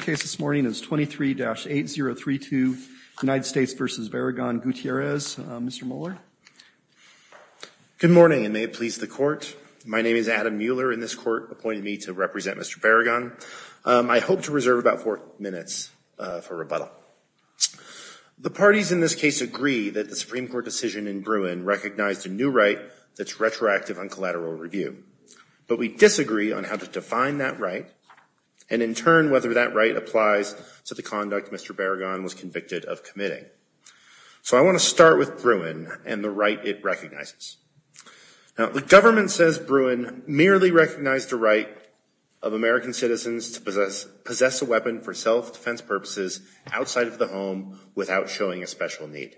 case this morning is 23-8032, United States v. Barragan-Gutierrez. Mr. Mueller. Good morning, and may it please the Court. My name is Adam Mueller, and this Court appointed me to represent Mr. Barragan. I hope to reserve about four minutes for rebuttal. The parties in this case agree that the Supreme Court decision in Bruin recognized a new right that's retroactive on collateral review. But we disagree on how to define that right, and in turn whether that right applies to the conduct Mr. Barragan was convicted of committing. So I want to start with Bruin and the right it recognizes. Now, the government says Bruin merely recognized the right of American citizens to possess a weapon for self-defense purposes outside of the home without showing a special need.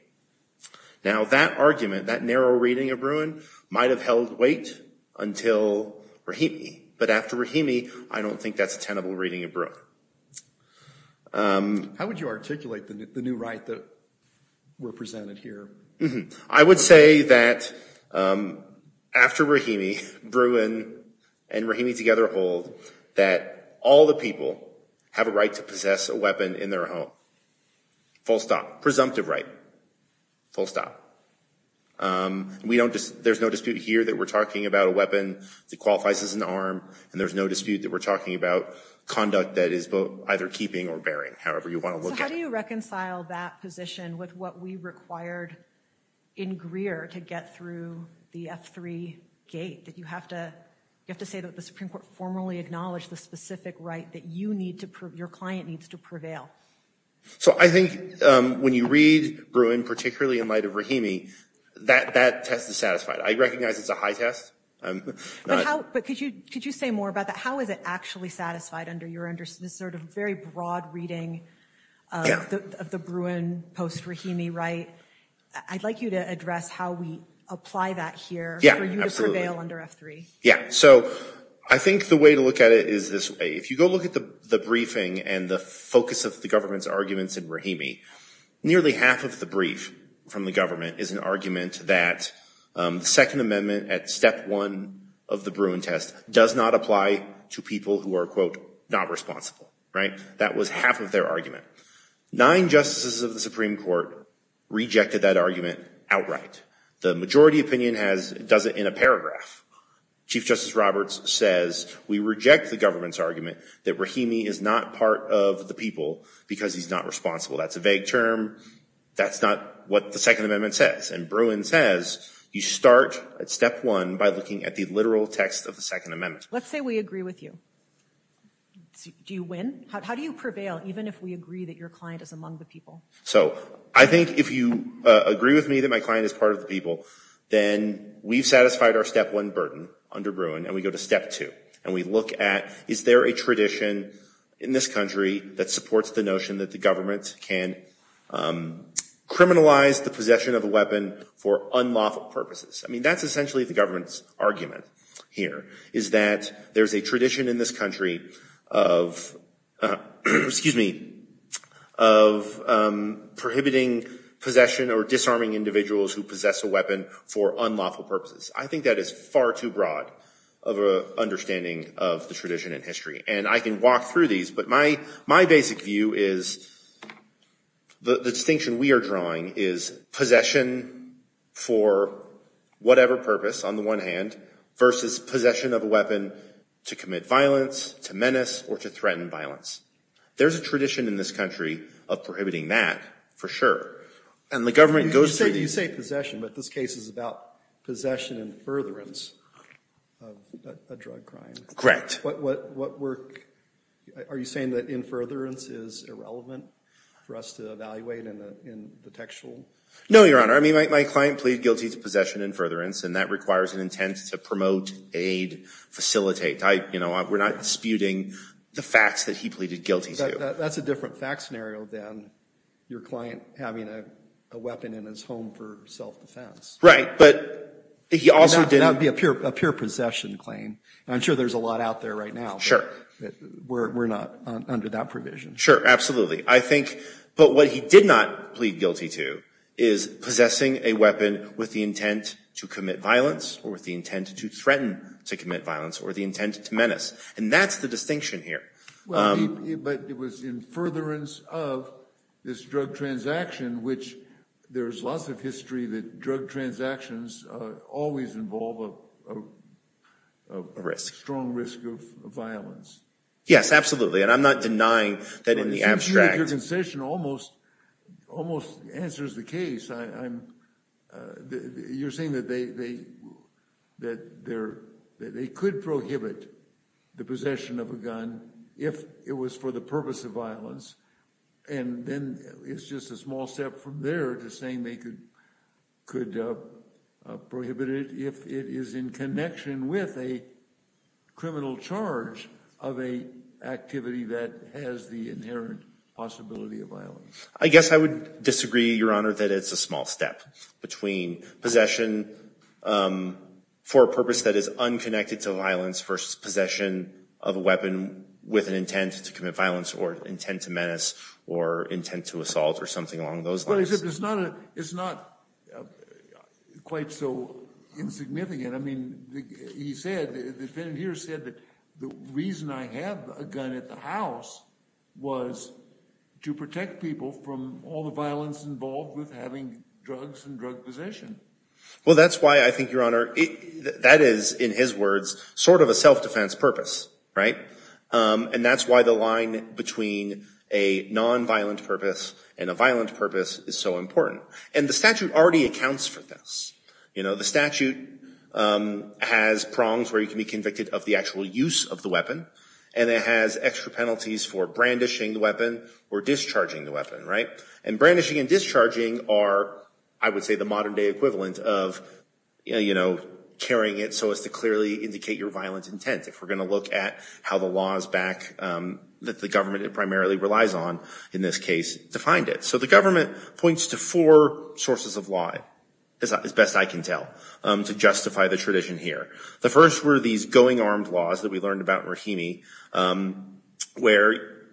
Now, that argument, that narrow reading of Bruin, might have held weight until Rahimi. But after Rahimi, I don't think that's a tenable reading of Bruin. How would you articulate the new right that were presented here? I would say that after Rahimi, Bruin and Rahimi together hold that all the people have a right to possess a weapon in their home. Full stop. Presumptive right. Full stop. There's no dispute here that we're talking about a weapon that qualifies as an arm, and there's no dispute that we're talking about conduct that is either keeping or bearing, however you want to look at it. So how do you reconcile that position with what we required in Greer to get through the F3 gate, that you have to say that the Supreme Court formally acknowledged the specific right that your client needs to prevail? So I think when you read Bruin, particularly in light of Rahimi, that test is satisfied. I recognize it's a high test. But could you say more about that? How is it actually satisfied under this sort of very broad reading of the Bruin post-Rahimi right? I'd like you to address how we apply that here for you to prevail under F3. So I think the way to look at it is this way. If you go look at the briefing and the focus of the government's arguments in Rahimi, nearly half of the brief from the government is an argument that the Second Amendment at step one of the Bruin test does not apply to people who are, quote, not responsible, right? That was half of their argument. Nine justices of the Supreme Court rejected that argument outright. The majority opinion does it in a paragraph. Chief Justice Roberts says, we reject the government's argument that Rahimi is not part of the people because he's not responsible. That's a vague term. That's not what the Second Amendment says. And Bruin says you start at step one by looking at the literal text of the Second Amendment. Let's say we agree with you. Do you win? How do you prevail even if we agree that your client is among the people? So I think if you agree with me that my client is part of the people, then we've satisfied our step one burden under Bruin, and we go to step two. And we look at, is there a tradition in this country that supports the notion that the government can criminalize the possession of a weapon for unlawful purposes? I mean, that's essentially the government's argument here, is that there's a tradition in this country of, excuse me, of prohibiting possession or disarming individuals who possess a weapon for unlawful purposes. I think that is far too broad of an understanding of the tradition in history. And I can walk through these, but my basic view is, the distinction we are drawing is possession for whatever purpose on the one hand, versus possession of a weapon to commit violence, to menace, or to threaten violence. There's a tradition in this country of prohibiting that, for sure. And the government goes through- I say possession, but this case is about possession and furtherance of a drug crime. What work- are you saying that in furtherance is irrelevant for us to evaluate in the textual? No, Your Honor. I mean, my client pleaded guilty to possession and furtherance, and that requires an intent to promote, aid, facilitate. We're not disputing the facts that he pleaded guilty to. That's a different fact scenario than your client having a weapon in his home for self-defense. Right, but he also did- That would be a pure possession claim. I'm sure there's a lot out there right now. We're not under that provision. Sure, absolutely. I think- but what he did not plead guilty to is possessing a weapon with the intent to commit violence, or with the intent to threaten to commit violence, or the intent to menace. And that's the distinction here. Well, but it was in furtherance of this drug transaction, which there's lots of history that drug transactions always involve a risk, a strong risk of violence. Yes, absolutely. And I'm not denying that in the abstract- Well, since you make your concession, it almost answers the case. I'm- you're saying that they could prohibit the possession of a gun if it was for the purpose of violence. And then it's just a small step from there to saying they could prohibit it if it is in connection with a criminal charge of a activity that has the inherent possibility of violence. I guess I would disagree, Your Honor, that it's a small step between possession for a purpose that is unconnected to violence versus possession of a weapon with an intent to commit violence, or intent to menace, or intent to assault, or something along those lines. Well, it's not- it's not quite so insignificant. I mean, he said- the defendant here said that the reason I have a gun at the house was to protect people from all the violence involved with having drugs and drug possession. Well, that's why I think, Your Honor, that is, in his words, sort of a self-defense purpose, right? And that's why the line between a non-violent purpose and a violent purpose is so important. And the statute already accounts for this. You know, the statute has prongs where you can be convicted of the actual use of the weapon, and it has extra penalties for brandishing the weapon or discharging the weapon, right? And brandishing and discharging are, I would say, the modern-day equivalent of, you know, carrying it so as to clearly indicate your violent intent, if we're going to look at how the law is back- that the government primarily relies on, in this case, to find it. So the government points to four sources of lie, as best I can tell, to justify the tradition here. The first were these going armed laws that we learned about in Rahimi, where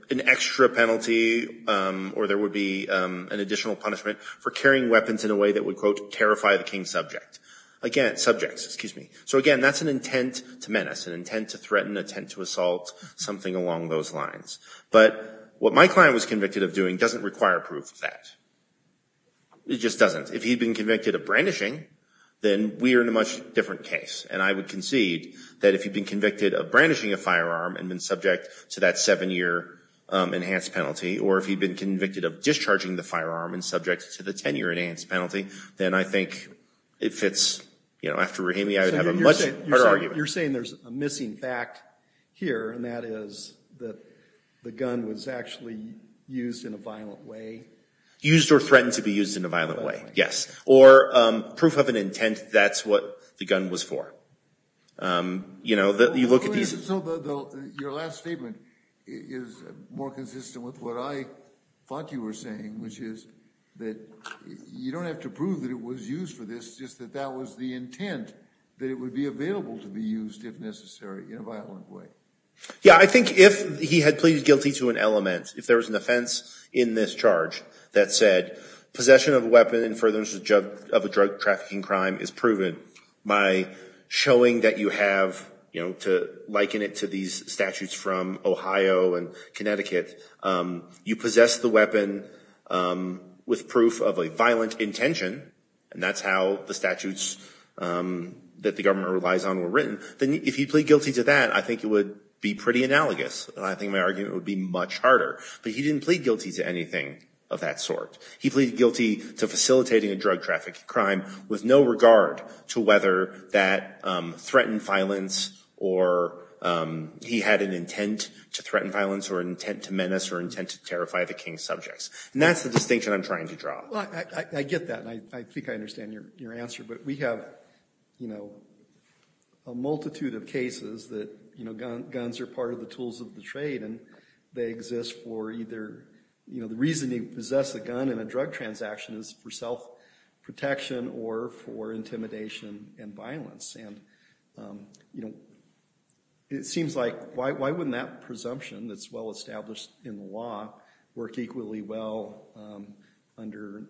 an extra penalty or there would be an additional punishment for carrying weapons in a way that would, quote, terrify the king's subject. Again, subjects, excuse me. So again, that's an intent to menace, an intent to threaten, an intent to assault, something along those lines. But what my client was convicted of doing doesn't require proof of that. It just doesn't. If he'd been convicted of brandishing, then we are in a much different case. And I would concede that if he'd been convicted of brandishing a firearm and been subject to that seven-year enhanced penalty, or if he'd been convicted of discharging the firearm and subject to the 10-year enhanced penalty, then I think it fits, you know, after Rahimi, I would have a much harder argument. You're saying there's a missing fact here, and that is that the gun was actually used in a violent way? Used or threatened to be used in a violent way, yes. Or proof of an intent, that's what the gun was for. You know, you look at these... Your last statement is more consistent with what I thought you were saying, which is that you don't have to prove that it was used for this, just that that was the intent, that it would be available to be used if necessary in a violent way. Yeah, I think if he had pleaded guilty to an element, if there was an offense in this charge that said possession of a weapon in furtherance of a drug trafficking crime is proven by showing that you have, you know, to liken it to these statutes from Ohio and Connecticut, you possess the weapon with proof of a violent intention, and that's how the statutes that the government relies on were written, then if he pleaded guilty to that, I think it would be pretty analogous, and I think my argument would be much harder. But he didn't plead guilty to anything of that sort. He pleaded guilty to facilitating a drug trafficking crime with no regard to whether that threatened violence or he had an intent to threaten violence or an intent to menace or intent to terrify the king's subjects. And that's the distinction I'm trying to draw. I get that, and I think I understand your answer. But we have, you know, a multitude of cases that, you know, guns are part of the tools of the trade, and they exist for either, you know, the reason you possess a gun in a drug transaction is for self-protection or for intimidation and violence. And, you know, it seems like why wouldn't that presumption that's well-established in the law work equally well under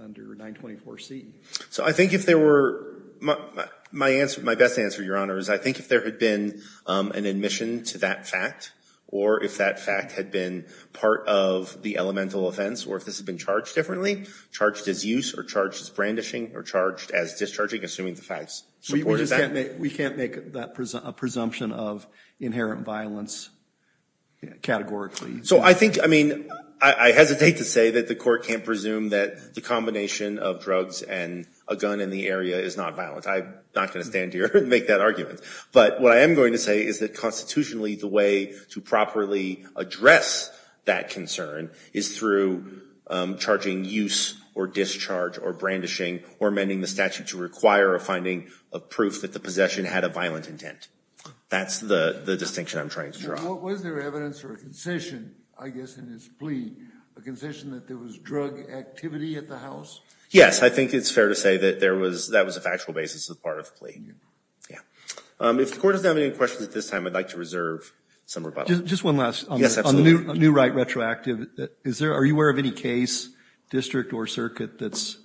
924C? So I think if there were—my best answer, Your Honor, is I think if there had been an admission to that fact or if that fact had been part of the elemental offense or if this had been charged differently, charged as use or charged as brandishing or charged as discharging, assuming the facts supported that— We can't make a presumption of inherent violence categorically. So I think—I mean, I hesitate to say that the Court can't presume that the combination of drugs and a gun in the area is not violent. I'm not going to stand here and make that argument. But what I am going to say is that constitutionally the way to properly address that concern is through charging use or discharge or brandishing or amending the statute to require a finding of proof that the possession had a violent intent. That's the distinction I'm trying to draw. So what was there evidence for a concession, I guess, in this plea? A concession that there was drug activity at the house? Yes. I think it's fair to say that there was—that was a factual basis as part of the plea. Yeah. If the Court doesn't have any questions at this time, I'd like to reserve some rebuttal. Just one last— Yes, absolutely. —new right retroactive. Is there—are you aware of any case, district or circuit, that's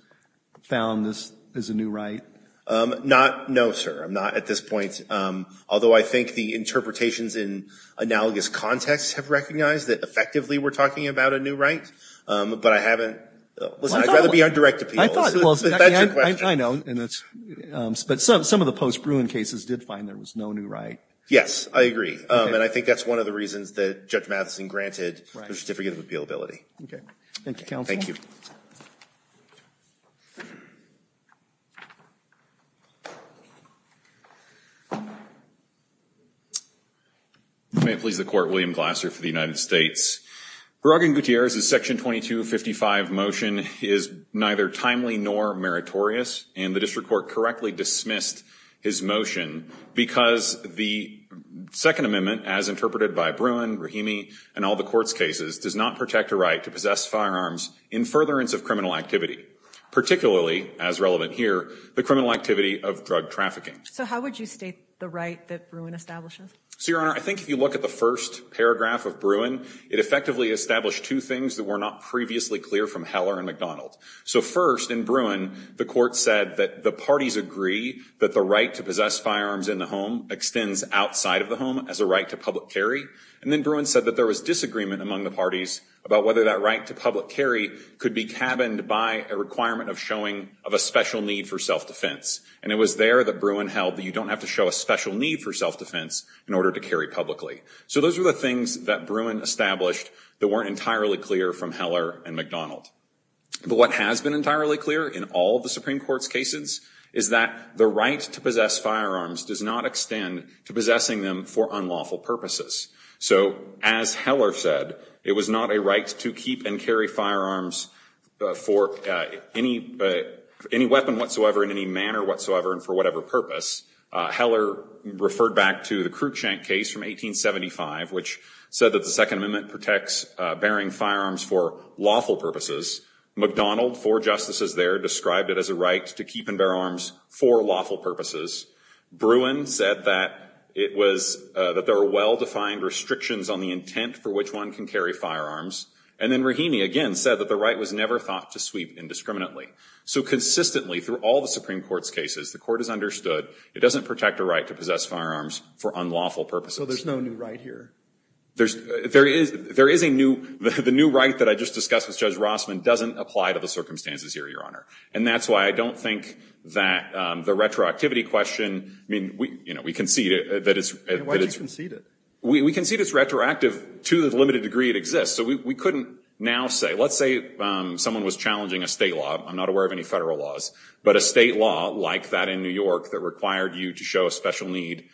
found this is a new right? Not—no, sir. I'm not at this point. Although I think the interpretations in analogous contexts have recognized that effectively we're talking about a new right, but I haven't—listen, I'd rather be on direct appeal. I thought—well, I know, and that's—but some of the post-Bruin cases did find there was no new right. Yes, I agree. And I think that's one of the reasons that Judge Matheson granted the certificate of appealability. Okay. Thank you, counsel. Thank you. If you may, please, the Court. William Glasser for the United States. Beragin Gutierrez's Section 2255 motion is neither timely nor meritorious, and the district court correctly dismissed his motion because the Second Amendment, as interpreted by Bruin, Rahimi, and all the Court's cases, does not protect a right to possess firearms in furtherance of criminal activity, particularly, as relevant here, the criminal activity of drug trafficking. So how would you state the right that Bruin establishes? So, Your Honor, I think if you look at the first paragraph of Bruin, it effectively established two things that were not previously clear from Heller and McDonald. So first, in Bruin, the Court said that the parties agree that the right to possess firearms in the home extends outside of the home as a right to public carry, and then Bruin said there was disagreement among the parties about whether that right to public carry could be cabined by a requirement of showing of a special need for self-defense. And it was there that Bruin held that you don't have to show a special need for self-defense in order to carry publicly. So those were the things that Bruin established that weren't entirely clear from Heller and McDonald. But what has been entirely clear in all the Supreme Court's cases is that the right to possess firearms does not extend to possessing them for unlawful purposes. So as Heller said, it was not a right to keep and carry firearms for any weapon whatsoever, in any manner whatsoever, and for whatever purpose. Heller referred back to the Cruikshank case from 1875, which said that the Second Amendment protects bearing firearms for lawful purposes. McDonald, four justices there, described it as a right to keep and bear arms for lawful purposes. Bruin said that there were well-defined restrictions on the intent for which one can carry firearms. And then Rahimi, again, said that the right was never thought to sweep indiscriminately. So consistently, through all the Supreme Court's cases, the Court has understood it doesn't protect a right to possess firearms for unlawful purposes. So there's no new right here? The new right that I just discussed with Judge Rossman doesn't apply to the circumstances here, Your Honor. And that's why I don't think that the retroactivity question, I mean, you know, we concede that it's- Why do you concede it? We concede it's retroactive to the limited degree it exists. So we couldn't now say, let's say someone was challenging a state law, I'm not aware of any federal laws, but a state law like that in New York that required you to show a special need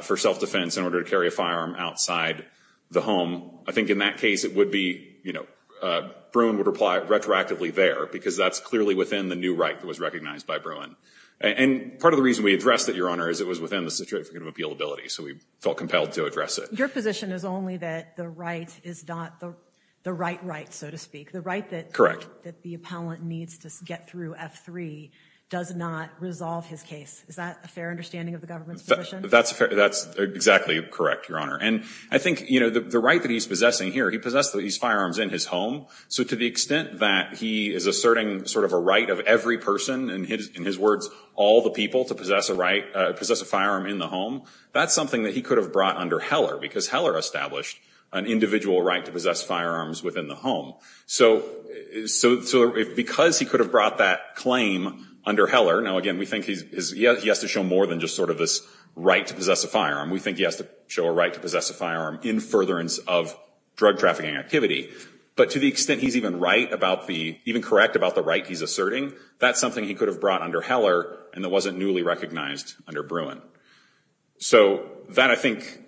for self-defense in order to carry a firearm outside the home. I think in that case, it would be, you know, Bruin would reply retroactively there, because that's clearly within the new right that was recognized by Bruin. And part of the reason we addressed it, Your Honor, is it was within the situation of appealability. So we felt compelled to address it. Your position is only that the right is not the right right, so to speak. The right that- That the appellant needs to get through F3 does not resolve his case. Is that a fair understanding of the government's position? That's exactly correct, Your Honor. And I think, you know, the right that he's possessing here, he possesses these firearms in his home. So to the extent that he is asserting sort of a right of every person, in his words, all the people to possess a firearm in the home, that's something that he could have brought under Heller, because Heller established an individual right to possess firearms within the home. So because he could have brought that claim under Heller, now again, we think he has to show more than just sort of this right to possess a firearm. We think he has to show a right to possess a firearm in furtherance of drug trafficking activity. But to the extent he's even right about the- even correct about the right he's asserting, that's something he could have brought under Heller and that wasn't newly recognized under Bruin. So that, I think,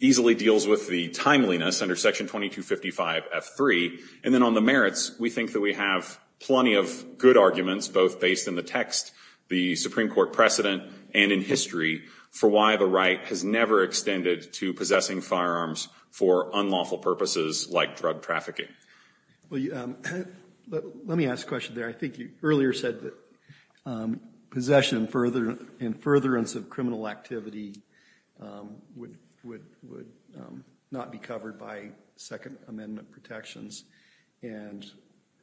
easily deals with the timeliness under Section 2255 F3. And then on the merits, we think that we have plenty of good arguments, both based in the text, the Supreme Court precedent, and in history, for why the right has never extended to possessing firearms for unlawful purposes like drug trafficking. Well, let me ask a question there. I think you earlier said that possession in furtherance of criminal activity would not be covered by Second Amendment protections. And,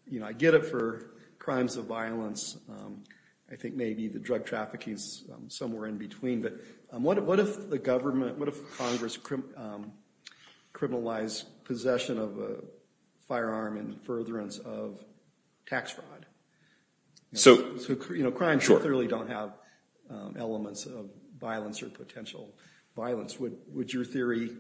you know, I get it for crimes of violence. I think maybe the drug trafficking is somewhere in between. But what if the government, what if Congress criminalized possession of a firearm in furtherance of tax fraud? So, you know, crimes clearly don't have elements of violence or potential violence. Would your theory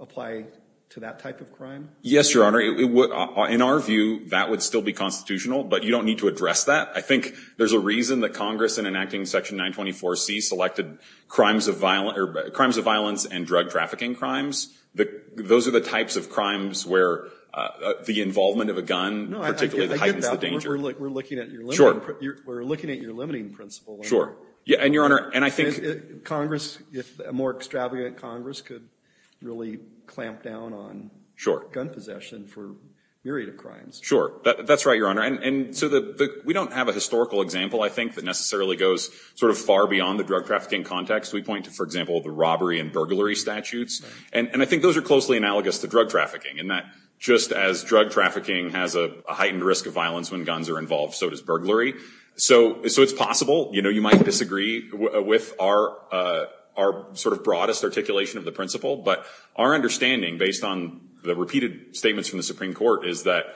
apply to that type of crime? Yes, Your Honor. In our view, that would still be constitutional. But you don't need to address that. I think there's a reason that Congress, in enacting Section 924C, selected crimes of violence and drug trafficking crimes. Those are the types of crimes where the involvement of a gun particularly heightens the danger. We're looking at your limiting principle. Yeah, and, Your Honor, and I think Congress, if a more extravagant Congress could really clamp down on gun possession for a myriad of crimes. Sure. That's right, Your Honor. And so we don't have a historical example, I think, that necessarily goes sort of far beyond the drug trafficking context. We point to, for example, the robbery and burglary statutes. And I think those are closely analogous to drug trafficking in that just as drug trafficking has a heightened risk of violence when guns are involved, so does burglary. So it's possible, you know, you might disagree with our sort of broadest articulation of the principle. But our understanding, based on the repeated statements from the Supreme Court, is that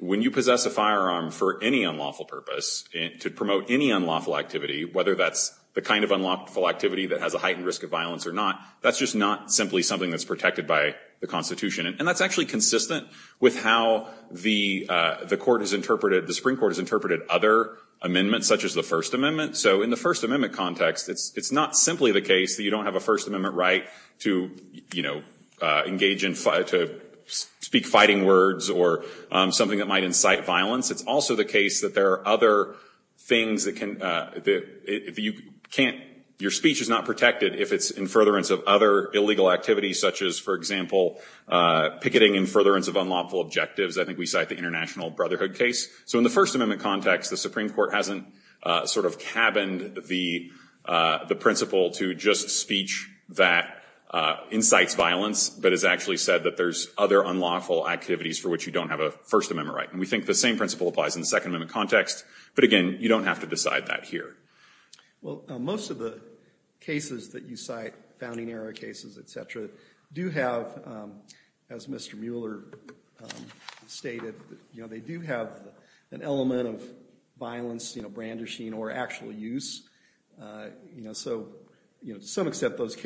when you possess a firearm for any unlawful purpose, to promote any unlawful activity, whether that's the kind of unlawful activity that has a heightened risk of violence or not, that's just not simply something that's protected by the Constitution. And that's actually consistent with how the Supreme Court has interpreted other amendments, such as the First Amendment. So in the First Amendment context, it's not simply the case that you don't have a First Amendment, or you don't have something that might incite violence. It's also the case that there are other things that can, that you can't, your speech is not protected if it's in furtherance of other illegal activities, such as, for example, picketing in furtherance of unlawful objectives. I think we cite the International Brotherhood case. So in the First Amendment context, the Supreme Court hasn't sort of cabined the principle to just speech that incites violence, but has actually said that there's other unlawful activities for which you don't have a First Amendment right. And we think the same principle applies in the Second Amendment context. But again, you don't have to decide that here. Well, most of the cases that you cite, founding era cases, et cetera, do have, as Mr. Mueller stated, they do have an element of violence, brandishing, or actual use. You know, so to some extent, this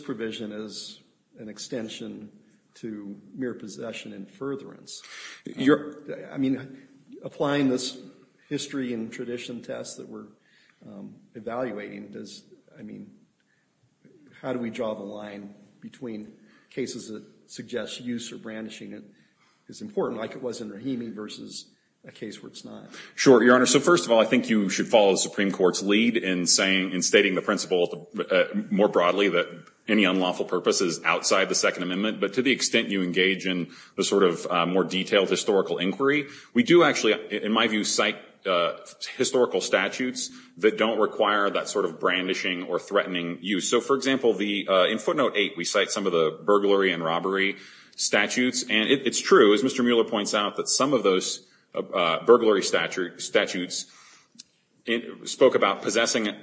provision is an extension to mere possession in furtherance. I mean, applying this history and tradition test that we're evaluating, I mean, how do we draw the line between cases that suggest use or brandishing is important, like it was in Rahimi versus a case where it's not? Sure, Your Honor. So first of all, I think you should follow the Supreme Court's lead in stating the principle more broadly that any unlawful purpose is outside the Second Amendment. But to the extent you engage in the sort of more detailed historical inquiry, we do actually, in my view, cite historical statutes that don't require that sort of brandishing or threatening use. So for example, in footnote 8, we cite some of the burglary and robbery statutes. And it's true, as Mr. Mueller points out, that some of those burglary statutes spoke about possessing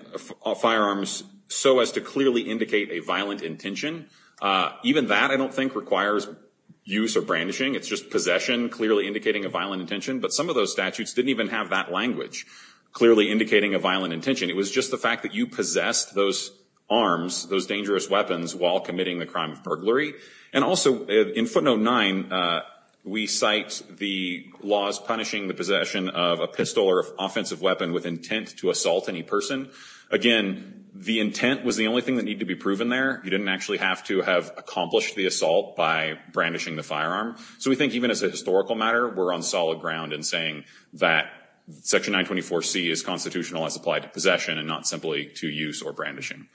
firearms so as to clearly indicate a violent intention. Even that, I don't think, requires use or brandishing. It's just possession clearly indicating a violent intention. But some of those statutes didn't even have that language, clearly indicating a violent intention. It was just the fact that you possessed those arms, those dangerous weapons, while committing the crime of burglary. And also, in footnote 9, we cite the laws punishing the possession of a pistol or offensive weapon with intent to assault any person. Again, the intent was the only thing that needed to be proven there. You didn't actually have to have accomplished the assault by brandishing the firearm. So we think, even as a historical matter, we're on solid ground in saying that section 924C is constitutional as applied to possession and not simply to use or brandishing.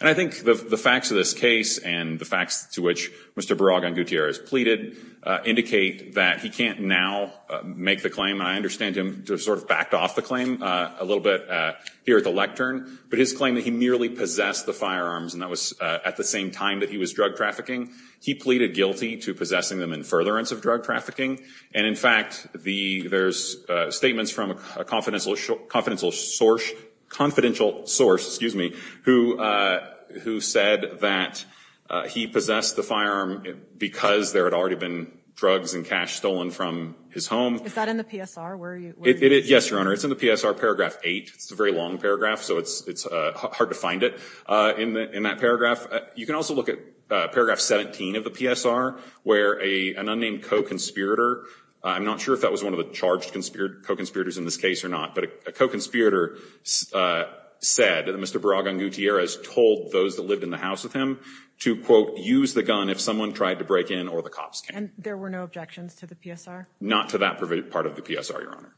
And I think the facts of this case and the facts to which Mr. Baraggan-Gutierrez pleaded indicate that he can't now make the claim. And I understand him to have sort of backed off the claim a little bit here at the lectern. But his claim that he merely possessed the firearms, and that was at the same time that he was drug trafficking, he pleaded guilty to possessing them in furtherance of drug trafficking. And in fact, there's statements from a confidential source who said that he possessed the firearm because there had already been drugs and cash stolen from his home. Is that in the PSR? Yes, Your Honor. It's in the PSR, paragraph 8. It's a very long paragraph, so it's hard to find it in that paragraph. You can also look at paragraph 17 of the PSR, where an unnamed co-conspirator, I'm not sure if that was one of the charged co-conspirators in this case or not, but a co-conspirator said that Mr. Baraggan-Gutierrez told those that lived in the house with him to, quote, use the gun if someone tried to break in or the cops came. And there were no objections to the PSR? Not to that part of the PSR, Your Honor.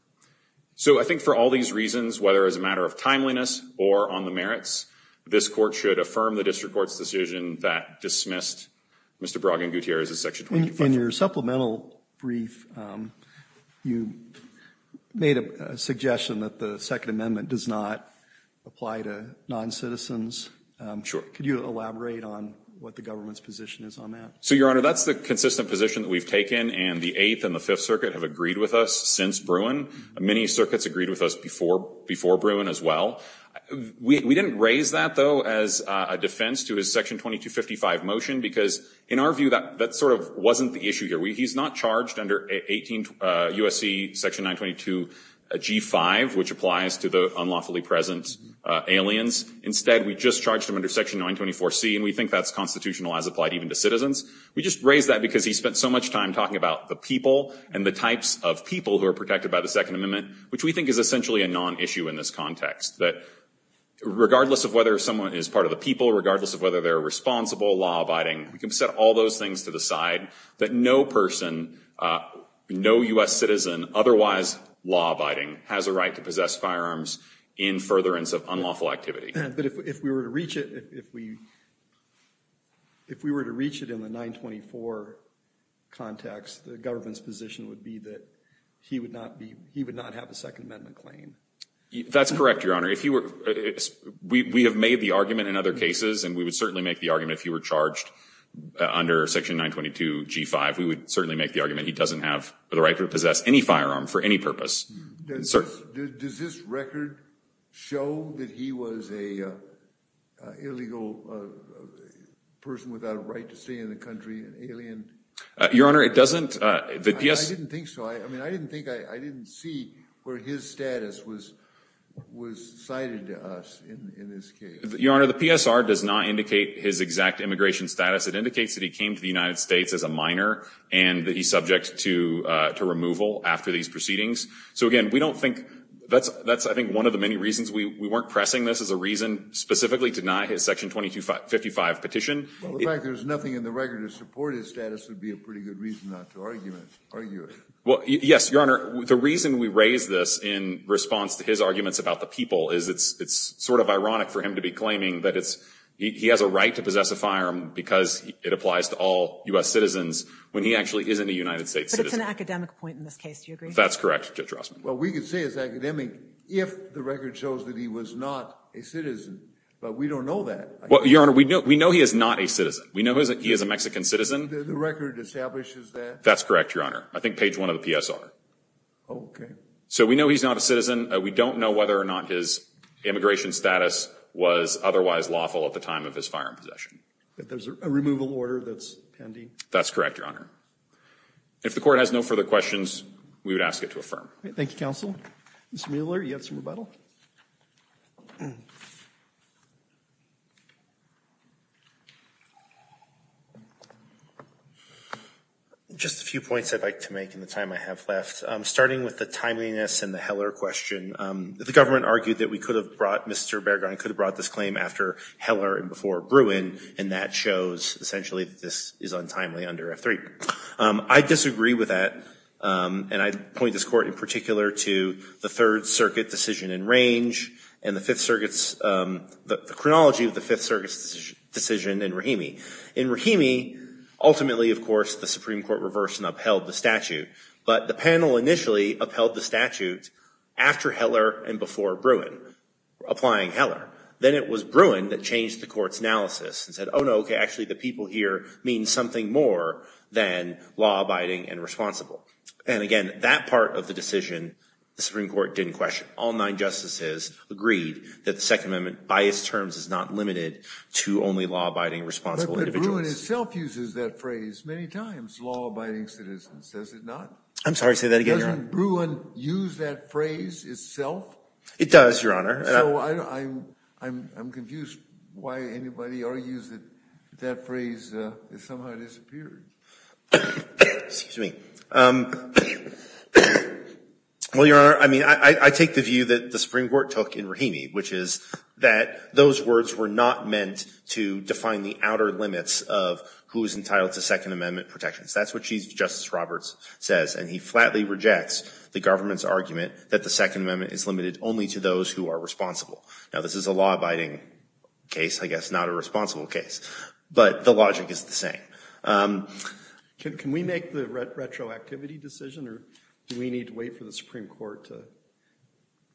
So I think for all these reasons, whether as a matter of timeliness or on the merits, this court should affirm the district court's decision that dismissed Mr. Baraggan-Gutierrez as Section 25. In your supplemental brief, you made a suggestion that the Second Amendment does not apply to non-citizens. Sure. Could you elaborate on what the government's position is on that? So, Your Honor, that's the consistent position that we've taken, and the Eighth and the Fifth Circuit have agreed with us since Bruin. Many circuits agreed with us before Bruin as well. We didn't raise that, though, as a defense to his Section 2255 motion because, in our view, that sort of wasn't the issue here. He's not charged under 18 U.S.C. Section 922 G5, which applies to the unlawfully present aliens. Instead, we just charged him under Section 924 C, and we think that's constitutional as applied even to citizens. We just raised that because he spent so much time talking about the people and the types of people who are protected by the Second Amendment, which we think is essentially a non-issue in this context, that regardless of whether someone is part of the people, regardless of whether they're responsible, law-abiding, we can set all those things to the side, that no person, no U.S. citizen, otherwise law-abiding, has a right to possess firearms in furtherance of unlawful activity. But if we were to reach it, if we were to reach it in the 924 context, the government's position would be that he would not be, he would not have a Second Amendment claim. That's correct, Your Honor. If he were, we have made the argument in other cases, and we would certainly make the argument if he were charged under Section 922 G5, we would certainly make the argument he doesn't have the right to possess any firearm for any purpose. Does this record show that he was an illegal person without a right to stay in the country, Your Honor? It doesn't. I didn't think so. I mean, I didn't think, I didn't see where his status was cited to us in this case. Your Honor, the PSR does not indicate his exact immigration status. It indicates that he came to the United States as a minor, and that he's subject to removal after these proceedings. So again, we don't think, that's I think one of the many reasons we weren't pressing this as a reason specifically to deny his Section 2255 petition. Well, the fact that there's nothing in the record to support his status would be a pretty good reason not to argue it. Well, yes, Your Honor. The reason we raise this in response to his arguments about the people is it's sort of ironic for him to be claiming that he has a right to possess a firearm because it applies to all U.S. citizens when he actually isn't a United States citizen. But it's an academic point in this case. Do you agree? That's correct, Judge Rossman. Well, we could say it's academic if the record shows that he was not a citizen. But we don't know that. Your Honor, we know he is not a citizen. We know that he is a Mexican citizen. The record establishes that? That's correct, Your Honor. I think page one of the PSR. Oh, okay. So we know he's not a citizen. We don't know whether or not his immigration status was otherwise lawful at the time of his firearm possession. There's a removal order that's pending? That's correct, Your Honor. If the Court has no further questions, we would ask it to affirm. Thank you, Counsel. Mr. Mueller, you have some rebuttal? Just a few points I'd like to make in the time I have left. Starting with the timeliness and the Heller question, the government argued that we could have brought Mr. Bergeron could have brought this claim after Heller and before Bruin. And that shows, essentially, that this is untimely under F3. I disagree with that. And I point this Court in particular to the Third Circuit decision in range and the Fifth Circuit decision in Rahimi. In Rahimi, ultimately, of course, the Supreme Court reversed and upheld the statute. But the panel initially upheld the statute after Heller and before Bruin, applying Heller. Then it was Bruin that changed the Court's analysis and said, oh, no, okay, actually the people here mean something more than law-abiding and responsible. And again, that part of the decision, the Supreme Court didn't question. All nine justices agreed that the Second Amendment, by its terms, is not limited to only law-abiding and responsible individuals. But Bruin itself uses that phrase many times, law-abiding citizens, does it not? I'm sorry, say that again, Your Honor. Doesn't Bruin use that phrase itself? It does, Your Honor. So I'm confused why anybody argues that that phrase has somehow disappeared. Excuse me. Well, Your Honor, I mean, I take the view that the Supreme Court took in Rahimi, which is that those words were not meant to define the outer limits of who is entitled to Second Amendment protections. That's what Chief Justice Roberts says. And he flatly rejects the government's argument that the Second Amendment is limited only to those who are responsible. Now, this is a law-abiding case, I guess, not a responsible case. But the logic is the same. Can we make the retroactivity decision, or do we need to wait for the Supreme Court to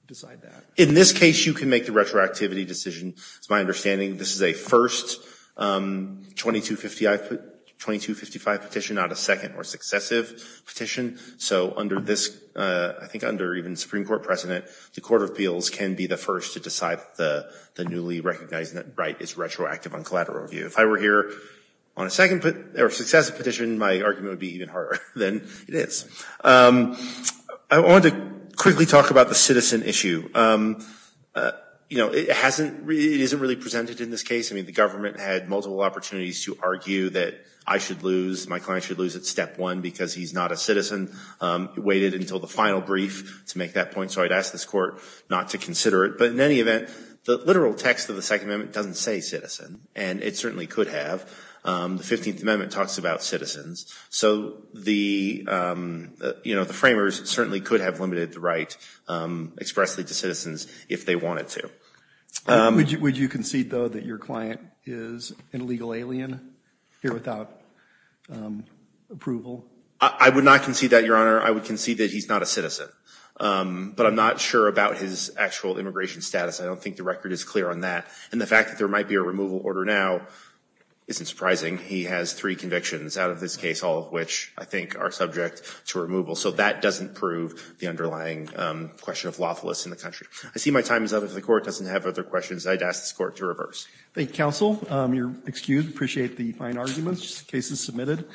decide that? In this case, you can make the retroactivity decision. It's my understanding this is a first 2255 petition, not a second or successive petition. So under this, I think under even Supreme Court precedent, the Court of Appeals can be the first to decide that the newly recognized net right is retroactive on collateral review. If I were here on a second or successive petition, my argument would be even harder than it is. I wanted to quickly talk about the citizen issue. You know, it hasn't really, it isn't really presented in this case. I mean, the government had multiple opportunities to argue that I should lose, my client should lose at step one because he's not a citizen, waited until the final brief to make that point. So I'd ask this Court not to consider it. But in any event, the literal text of the Second Amendment doesn't say citizen. And it certainly could have. The 15th Amendment talks about citizens. So the, you know, the framers certainly could have limited the right expressly to citizens if they wanted to. Would you concede, though, that your client is an illegal alien here without approval? I would not concede that, Your Honor. I would concede that he's not a citizen. But I'm not sure about his actual immigration status. I don't think the record is clear on that. And the fact that there might be a removal order now isn't surprising. He has three convictions out of this case, all of which I think are subject to removal. So that doesn't prove the underlying question of lawfulness in the country. I see my time is up. If the Court doesn't have other questions, I'd ask this Court to reverse. Thank you, counsel. You're excused. Appreciate the fine arguments. Case is submitted.